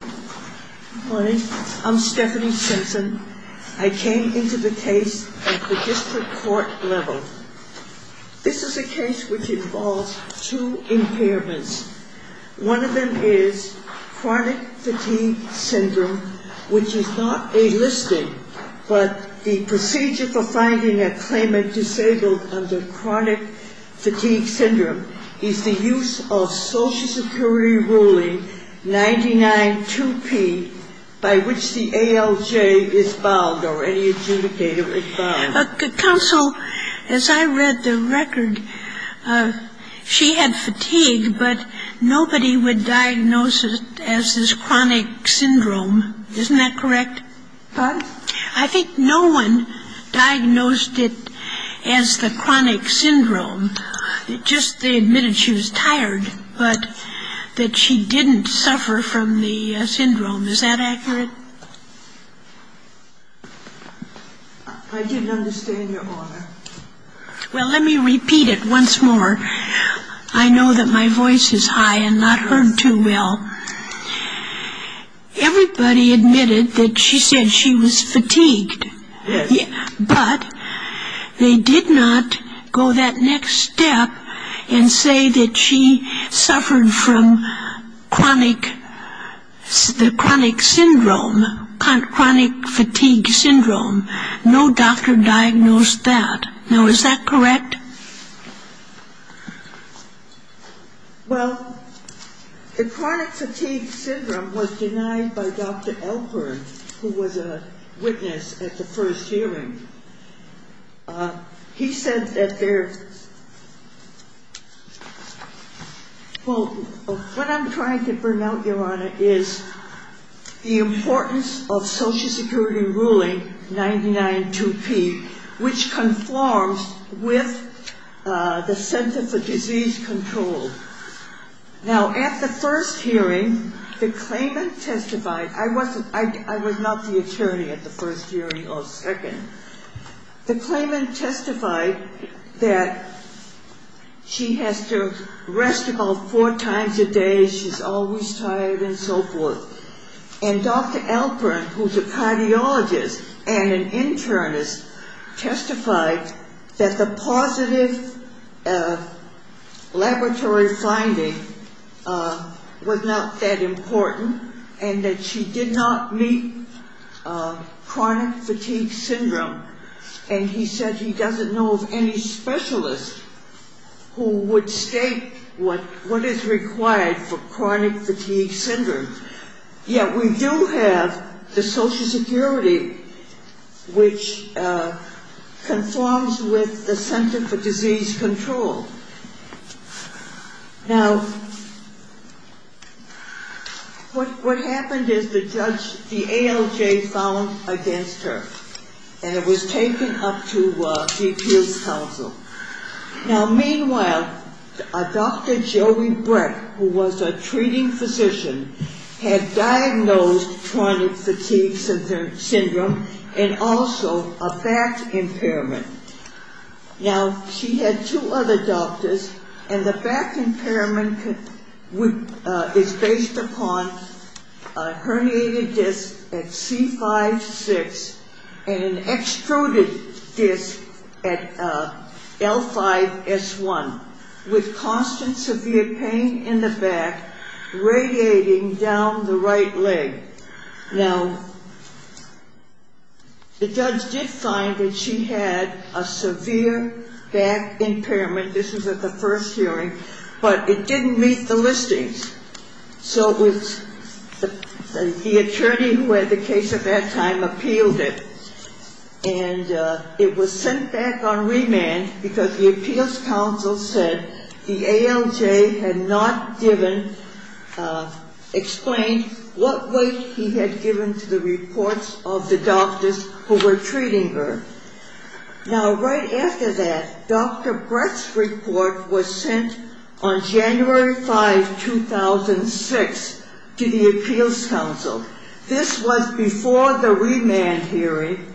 Good morning. I'm Stephanie Simpson. I came into the case at the district court level. This is a case which involves two impairments. One of them is chronic fatigue syndrome, which is not a listing, but the procedure for finding a claimant disabled under chronic fatigue syndrome is the use of Social Security Pre-Ruling 99-2P by which the ALJ is bound or any adjudicator is bound. Counsel, as I read the record, she had fatigue, but nobody would diagnose it as this chronic syndrome. Isn't that correct? Pardon? I think no one diagnosed it as the chronic syndrome. Just they admitted she was tired, but that she didn't suffer from the syndrome. Is that accurate? I didn't understand your order. Well, let me repeat it once more. I know that my voice is high and not heard too well. Everybody admitted that she said she was fatigued. Yes. But they did not go that next step and say that she suffered from chronic syndrome, chronic fatigue syndrome. No doctor diagnosed that. Now, is that correct? Well, the chronic fatigue syndrome was denied by Dr. Elkburn, who was a witness at the first hearing. He said that there Well, what I'm trying to bring out, Your Honor, is the importance of Social Security Ruling 99-2P, which conforms with the Center for Disease Control. Now, at the first hearing, the claimant testified. I was not the attorney at the first hearing or second. The claimant testified that she has to rest about four times a day. She's always tired and so forth. And Dr. Elkburn, who's a cardiologist and an internist, testified that the positive laboratory finding was not that important and that she did not meet chronic fatigue syndrome. And he said he doesn't know of any specialist who would state what is required for Now, what happened is the ALJ found against her and it was taken up to DPS counsel. Now, meanwhile, Dr. Joey Brett, who was a treating physician, had diagnosed chronic fatigue syndrome and also a back impairment. Now, she had two other doctors and the back impairment is based upon a herniated disc at C5-6 and an extruded disc at L5-S1 with constant severe pain in the back radiating down the right leg. Now, the judge did find that she had a severe back impairment. This was at the first hearing, but it didn't meet the listings. So the attorney who had the case at that time appealed it. And it was sent back on remand because the appeals counsel said the ALJ had not explained what weight he had given to the reports of the doctors who were treating her. Now, right after that, Dr. Brett's report was sent on January 5, 2006 to the appeals counsel. This was before the remand hearing.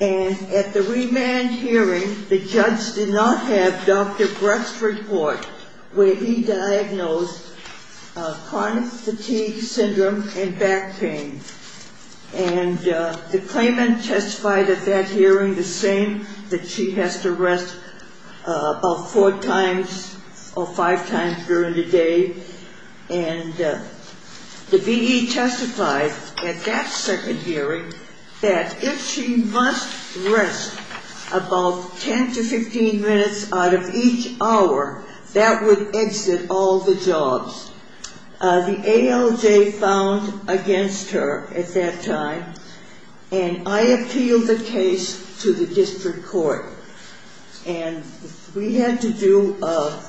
And at the remand hearing, the judge did not have Dr. Brett's report where he diagnosed chronic fatigue syndrome and back pain. And the claimant testified at that hearing the same, that she has to rest about four times or five times during the day. And the V.E. testified at that second hearing that if she must rest about 10 to 15 minutes out of each hour, that would exit all the jobs. The ALJ found against her at that time, and I appealed the case to the district court. And we had to do a...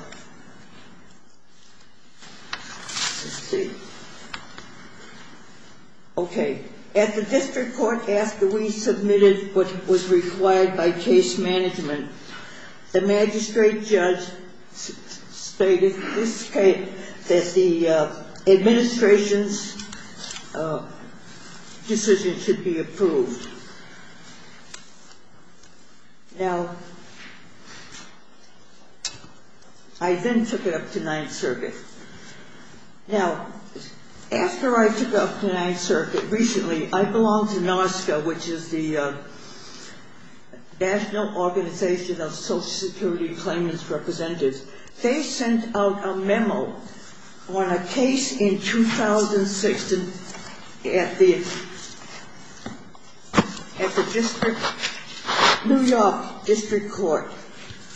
Now, I then took it up to Ninth Circuit. Now, after I took it up to Ninth Circuit, recently, I belong to NOSCA, which is the National Organization of Social Security Claimant's Representatives. They sent out a memo on a case in 2006 at the district, New York District Court.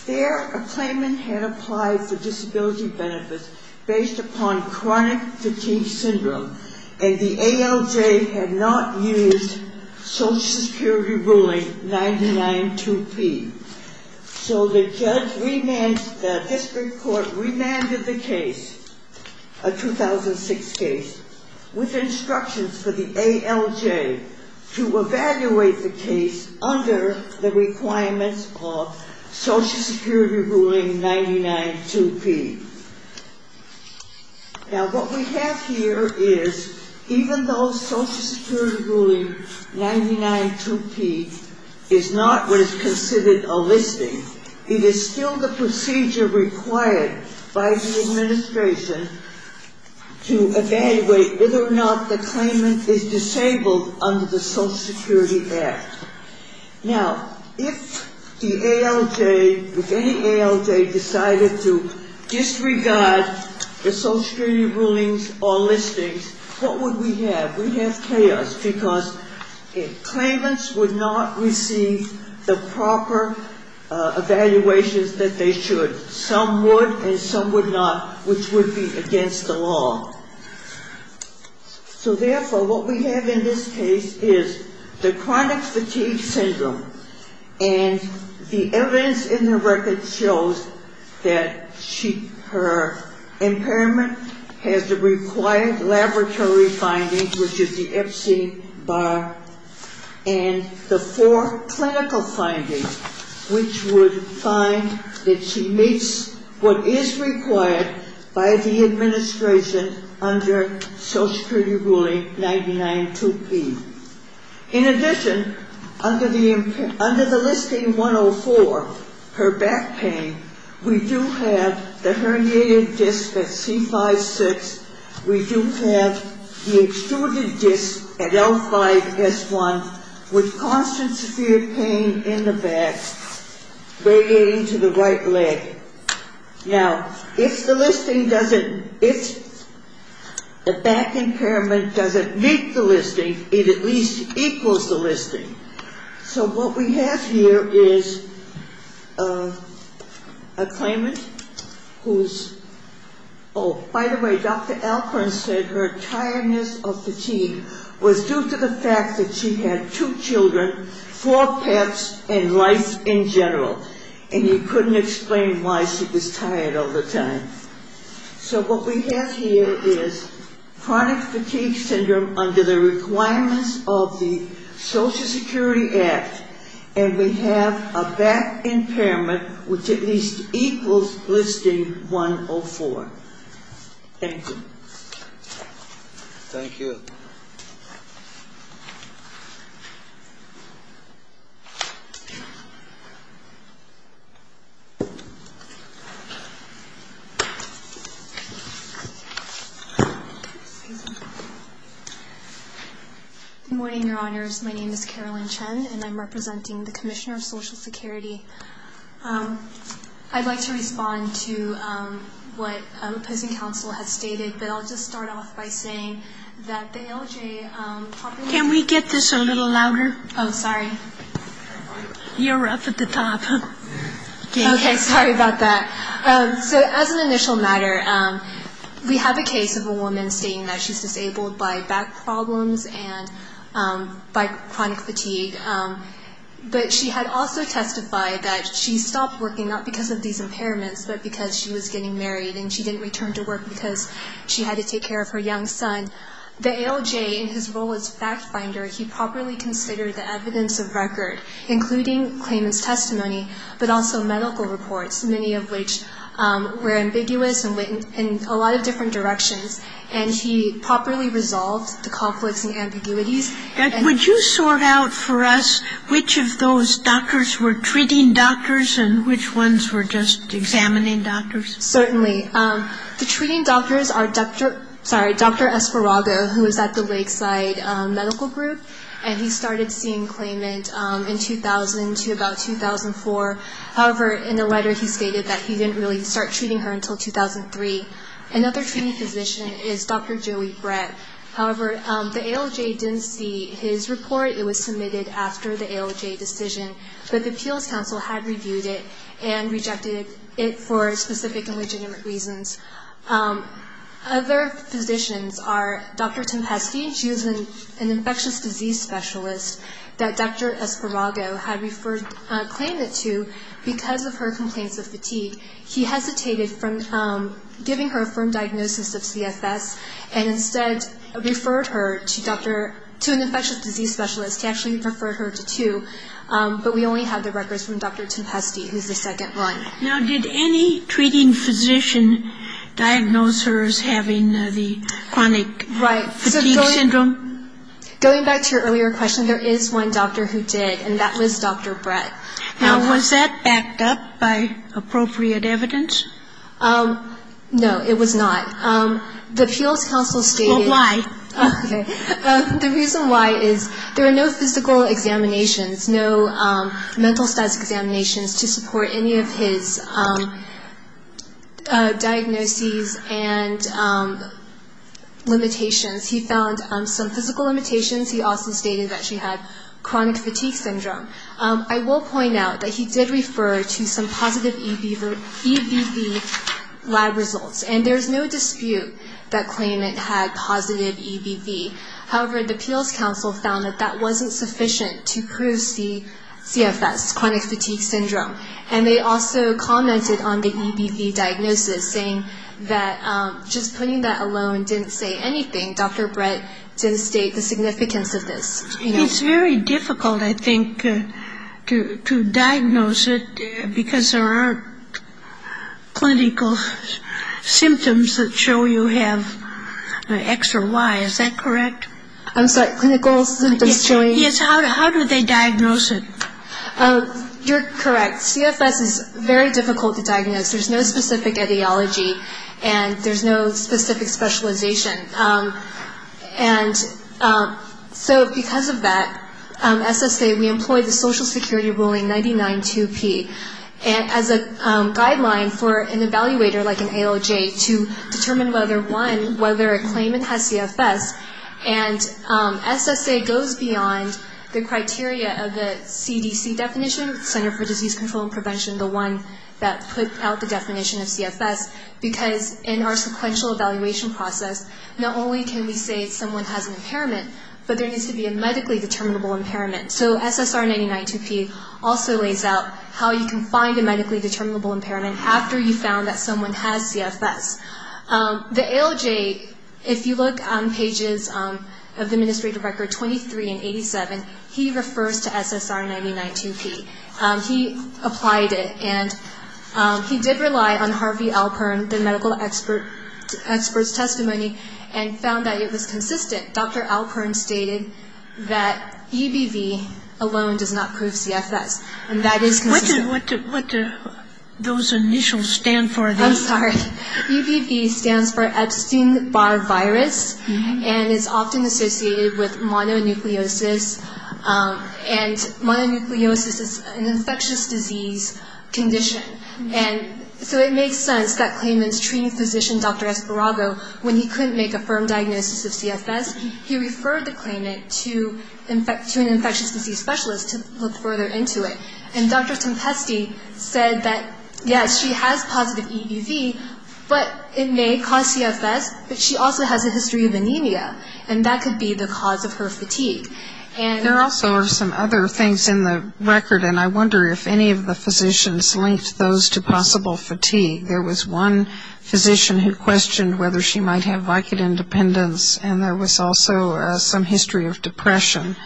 There, a claimant had applied for disability benefits based upon chronic fatigue syndrome. And the ALJ had not used Social Security ruling 992P. So the judge remanded, the district court remanded the case, a 2006 case, with instructions for the ALJ to evaluate the case under the requirements of Social Security ruling 992P. Now, what we have here is, even though Social Security ruling 992P is not what is considered a listing, it is still the procedure required by the administration to evaluate whether or not the claimant is disabled under the Social Security Act. Now, if the ALJ, if any ALJ decided to disregard the Social Security rulings or listings, what would we have? We'd have chaos, because claimants would not receive the proper evaluations that they should. Some would, and some would not, which would be against the law. So, therefore, what we have in this case is the chronic fatigue syndrome, and the evidence in the record shows that she, her impairment has the required laboratory findings, which is the FCBAR, and the four clinical findings, which would find that she meets what is required by the administration to be disabled. Under Social Security ruling 992P. In addition, under the listing 104, her back pain, we do have the herniated disc at C5-6, we do have the extruded disc at L5-S1, with constant severe pain in the back, radiating to the right leg. Now, if the listing doesn't, if the back impairment doesn't meet the listing, it at least equals the listing. So, what we have here is a claimant who's, oh, by the way, Dr. Alcorn said her tiredness or fatigue was due to the fact that she had two children, four pets, and life in general, and he couldn't explain why she was tired all the time. So, what we have here is chronic fatigue syndrome under the requirements of the Social Security Act, and we have a back impairment which at least equals listing 104. Thank you. Thank you. Good morning, Your Honors. My name is Carolyn Chen, and I'm representing the Commissioner of Social Security. I'd like to respond to what opposing counsel has stated, but I'll just start off by saying that the ALJ properly Can we get this a little louder? Oh, sorry. You're up at the top. Okay, sorry about that. So, as an initial matter, we have a case of a woman stating that she's disabled by back problems and by chronic fatigue, but she had also testified that she stopped working not because of these impairments, but because she was getting married, and she didn't return to work because she had to take care of her young son. The ALJ in his role as fact finder, he properly considered the evidence of record, including claimant's testimony, but also medical reports, many of which were ambiguous and went in a lot of different directions, and he properly resolved the conflicts and ambiguities. Would you sort out for us which of those doctors were treating doctors and which ones were just examining doctors? Certainly. Okay. The treating doctors are Dr. Esparrago, who is at the Lakeside Medical Group, and he started seeing claimant in 2000 to about 2004. However, in a letter he stated that he didn't really start treating her until 2003. Another treating physician is Dr. Joey Brett. However, the ALJ didn't see his report. It was submitted after the ALJ decision, but the appeals council had reviewed it and rejected it for specific and legitimate reasons. Other physicians are Dr. Timpasti. She was an infectious disease specialist that Dr. Esparrago had claimed it to because of her complaints of fatigue. He hesitated from giving her a firm diagnosis of CFS and instead referred her to an infectious disease specialist. He actually referred her to two, but we only have the records from Dr. Timpasti, who's the second one. Now, did any treating physician diagnose her as having the chronic fatigue syndrome? Right. So going back to your earlier question, there is one doctor who did, and that was Dr. Brett. Now, was that backed up by appropriate evidence? No, it was not. The appeals council stated... Well, why? Okay. The reason why is there are no physical examinations, no mental status examinations, to support any of his diagnoses and limitations. He found some physical limitations. He also stated that she had chronic fatigue syndrome. I will point out that he did refer to some positive EBV lab results, and there's no dispute that claimant had positive EBV. However, the appeals council found that that wasn't sufficient to prove CFS, chronic fatigue syndrome. And they also commented on the EBV diagnosis, saying that just putting that alone didn't say anything. Dr. Brett didn't state the significance of this. It's very difficult, I think, to diagnose it, because there aren't clinical symptoms that show you have X or Y. Is that correct? I'm sorry, clinical symptoms showing... Yes, how do they diagnose it? You're correct. CFS is very difficult to diagnose. There's no specific etiology, and there's no specific specialization. And so because of that, SSA, we employed the Social Security Ruling 99-2P as a guideline for an evaluator like an ALJ to determine, one, whether a claimant has CFS. And SSA goes beyond the criteria of the CDC definition, Center for Disease Control and Prevention, the one that put out the definition of CFS, because in our sequential evaluation process, not only can we say someone has an impairment, but there needs to be a medically determinable impairment. So SSR 99-2P also lays out how you can find a medically determinable impairment after you've found that someone has CFS. The ALJ, if you look on pages of the administrative record 23 and 87, he refers to SSR 99-2P. He applied it, and he did rely on Harvey Alpern, the medical expert's testimony, and found that it was consistent. Dr. Alpern stated that EBV alone does not prove CFS, and that is consistent. What do those initials stand for? I'm sorry. EBV stands for Epstein-Barr virus, and it's often associated with mononucleosis. And mononucleosis is an infectious disease condition. And so it makes sense that claimant's treating physician, Dr. Esparrago, when he couldn't make a firm diagnosis of CFS, he referred the claimant to an infectious disease specialist to look further into it. And Dr. Tempeste said that, yes, she has positive EBV, but it may cause CFS, but she also has a history of anemia, and that could be the cause of her fatigue. There also are some other things in the record, and I wonder if any of the physicians linked those to possible fatigue. There was one physician who questioned whether she might have Vicodin dependence, and there was also some history of depression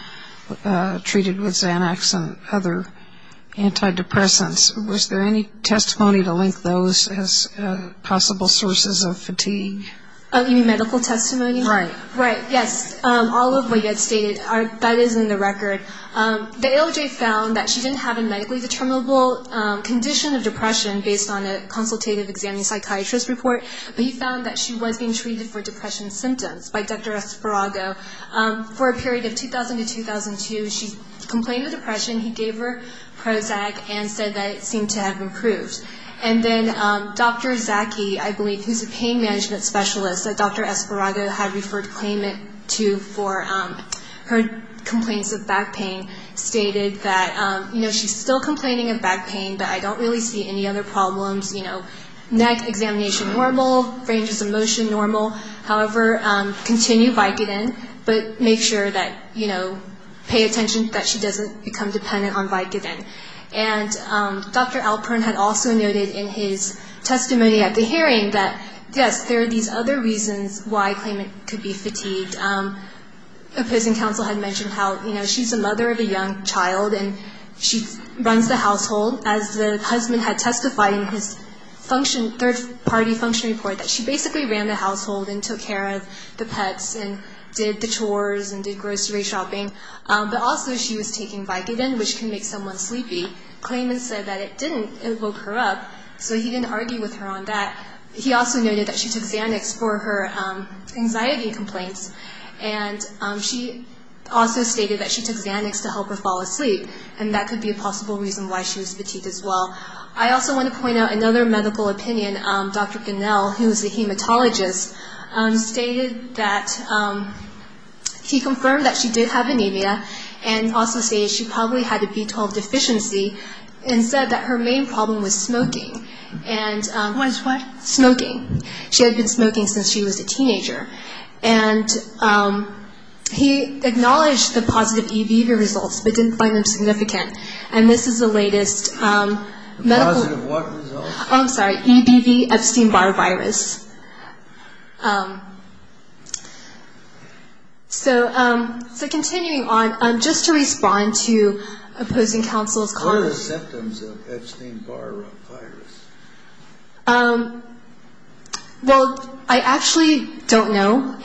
treated with Xanax and other antidepressants. Was there any testimony to link those as possible sources of fatigue? You mean medical testimony? Right. Right, yes. All of what you had stated, that is in the record. The ALJ found that she didn't have a medically determinable condition of depression based on a consultative examining psychiatrist report, but he found that she was being treated for depression symptoms by Dr. Esparrago. For a period of 2000 to 2002, she complained of depression. He gave her Prozac and said that it seemed to have improved. And then Dr. Zaki, I believe, who's a pain management specialist, that Dr. Esparrago had referred claimant to for her complaints of back pain, stated that, you know, she's still complaining of back pain, but I don't really see any other problems. You know, neck examination normal, ranges of motion normal. However, continue Vicodin, but make sure that, you know, pay attention that she doesn't become dependent on Vicodin. And Dr. Alpern had also noted in his testimony at the hearing that, yes, there are these other reasons why claimant could be fatigued. Opposing counsel had mentioned how, you know, she's a mother of a young child and she runs the household. As the husband had testified in his third-party function report, that she basically ran the household and took care of the pets and did the chores and did grocery shopping. But also she was taking Vicodin, which can make someone sleepy. Claimant said that it didn't evoke her up, so he didn't argue with her on that. He also noted that she took Xanax for her anxiety complaints. And she also stated that she took Xanax to help her fall asleep, and that could be a possible reason why she was fatigued as well. I also want to point out another medical opinion. Dr. Ganell, who is a hematologist, stated that he confirmed that she did have anemia and also stated she probably had a B12 deficiency and said that her main problem was smoking. What is what? Smoking. She had been smoking since she was a teenager. And he acknowledged the positive EBV results, but didn't find them significant. And this is the latest medical... Positive what results? Oh, I'm sorry, EBV, Epstein-Barr virus. So continuing on, just to respond to opposing counsel's comments... Well, I actually don't know,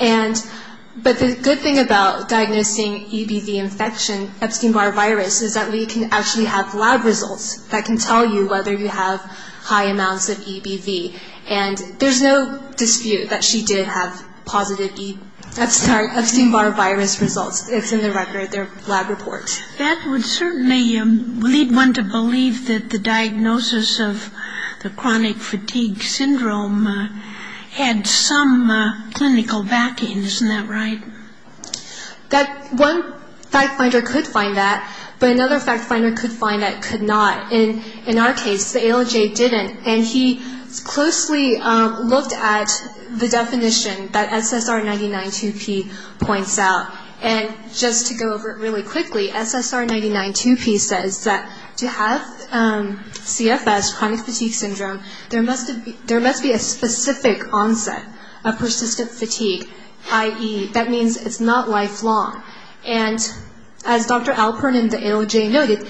but the good thing about diagnosing EBV infection, Epstein-Barr virus, is that we can actually have lab results that can tell you whether you have high amounts of EBV. And there's no dispute that she did have positive Epstein-Barr virus results. It's in the record, their lab report. That would certainly lead one to believe that the diagnosis of the chronic fatigue syndrome had some clinical backing. Isn't that right? That one fact finder could find that, but another fact finder could find that could not. In our case, the ALJ didn't. And he closely looked at the definition that SSR 99-2P points out. And just to go over it really quickly, SSR 99-2P says that to have CFS, chronic fatigue syndrome, there must be a specific onset of persistent fatigue, i.e., that means it's not lifelong. And as Dr. Alpern and the ALJ noted,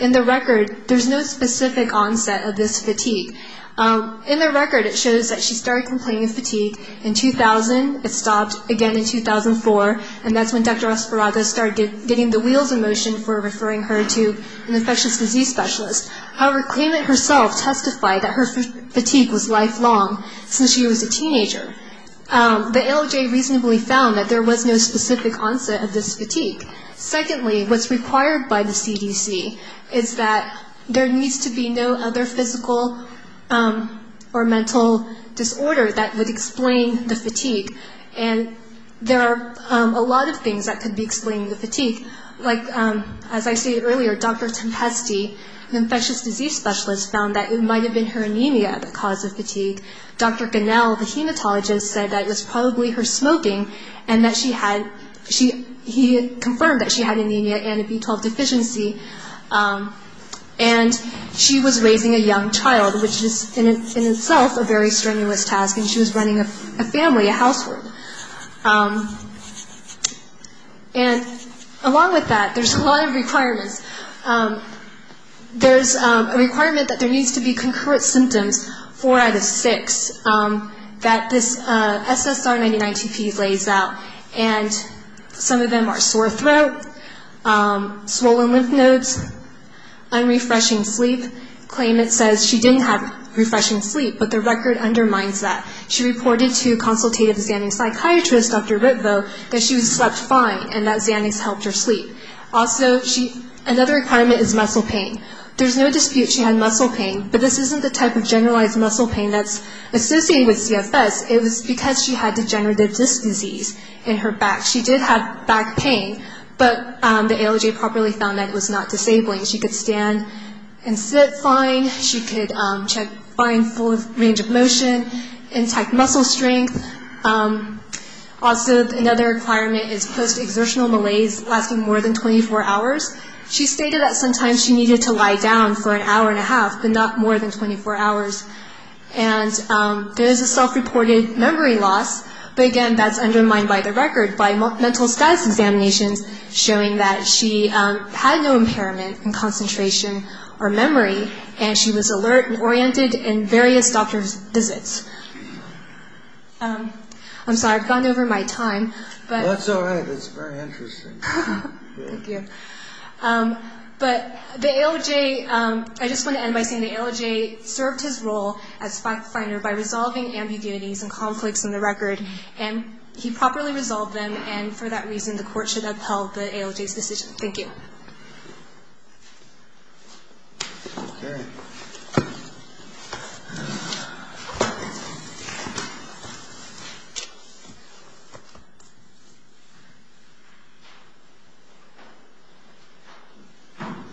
in the record, there's no specific onset of this fatigue. In the record, it shows that she started complaining of fatigue in 2000. It stopped again in 2004. And that's when Dr. Osporaga started getting the wheels in motion for referring her to an infectious disease specialist. However, claimant herself testified that her fatigue was lifelong since she was a teenager. The ALJ reasonably found that there was no specific onset of this fatigue. Secondly, what's required by the CDC is that there needs to be no other physical or mental disorder that would explain the fatigue. And there are a lot of things that could be explaining the fatigue. Like, as I stated earlier, Dr. Tempesti, an infectious disease specialist, found that it might have been her anemia that caused the fatigue. Dr. Ganell, the hematologist, said that it was probably her smoking and that she had – he confirmed that she had anemia and a B12 deficiency. And she was raising a young child, which is in itself a very strenuous task, and she was running a family, a household. And along with that, there's a lot of requirements. There's a requirement that there needs to be concurrent symptoms, four out of six, that this SSR99TP lays out. And some of them are sore throat, swollen lymph nodes, unrefreshing sleep. Claimant says she didn't have refreshing sleep, but the record undermines that. She reported to consultative Xanax psychiatrist, Dr. Ripvo, that she slept fine and that Xanax helped her sleep. Also, another requirement is muscle pain. There's no dispute she had muscle pain, but this isn't the type of generalized muscle pain that's associated with CFS. It was because she had degenerative disc disease in her back. She did have back pain, but the ALJ properly found that it was not disabling. She could stand and sit fine. She could – she had fine range of motion, intact muscle strength. Also, another requirement is post-exertional malaise lasting more than 24 hours. She stated that sometimes she needed to lie down for an hour and a half, but not more than 24 hours. And there is a self-reported memory loss, but again, that's undermined by the record, by mental status examinations showing that she had no impairment in concentration or memory, and she was alert and oriented in various doctor's visits. I'm sorry, I've gone over my time. That's all right. That's very interesting. Thank you. But the ALJ – I just want to end by saying the ALJ served his role as fact finder by resolving ambiguities and conflicts in the record, and he properly resolved them, and for that reason the court should uphold the ALJ's decision. Thank you. Okay.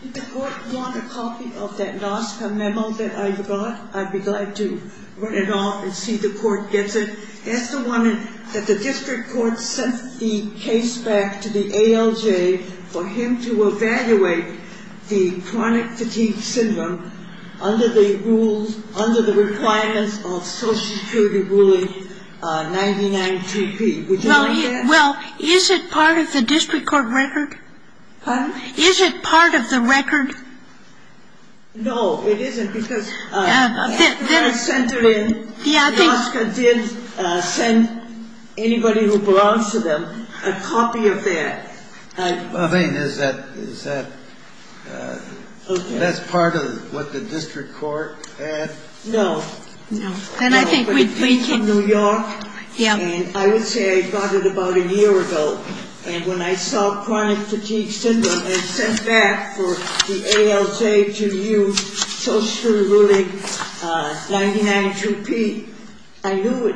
Did the court want a copy of that NASCA memo that I brought? I'd be glad to run it off and see the court gets it. That's the one that the district court sent the case back to the ALJ for him to evaluate the chronic fatigue syndrome under the rules – under the requirements of Social Security ruling 992B. Would you like that? Well, is it part of the district court record? Pardon? Is it part of the record? No, it isn't, because after I sent it in, NASCA did send anybody who belongs to them a copy of that. I mean, is that – that's part of what the district court – No. No. But it came from New York, and I would say I got it about a year ago, and when I saw chronic fatigue syndrome and sent back for the ALJ to use Social Security ruling 992P, I knew it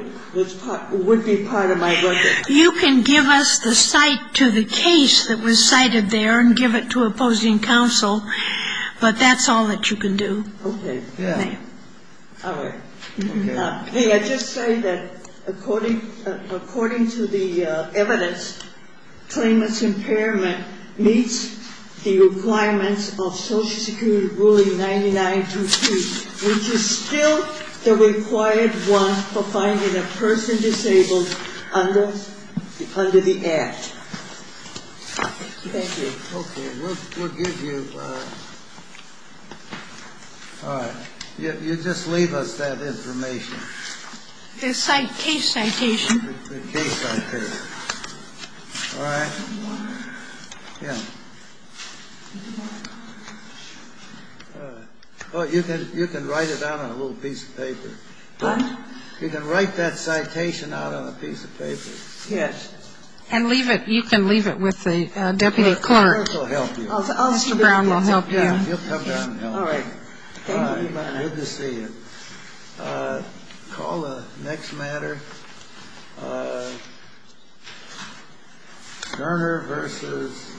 would be part of my record. You can give us the cite to the case that was cited there and give it to opposing counsel, but that's all that you can do. Okay. All right. May I just say that according to the evidence, claimant's impairment meets the requirements of Social Security ruling 992P, which is still the required one for finding a person disabled under the Act. Thank you. Okay. We'll give you – all right. You just leave us that information. The case citation. The case citation. All right. Yeah. Well, you can write it down on a little piece of paper. Pardon? You can write that citation out on a piece of paper. Yes. And leave it. You can leave it with the deputy clerk. The clerk will help you. Mr. Brown will help you. He'll come down and help you. All right. Thank you. Good to see you. Call the next matter. Cerner v.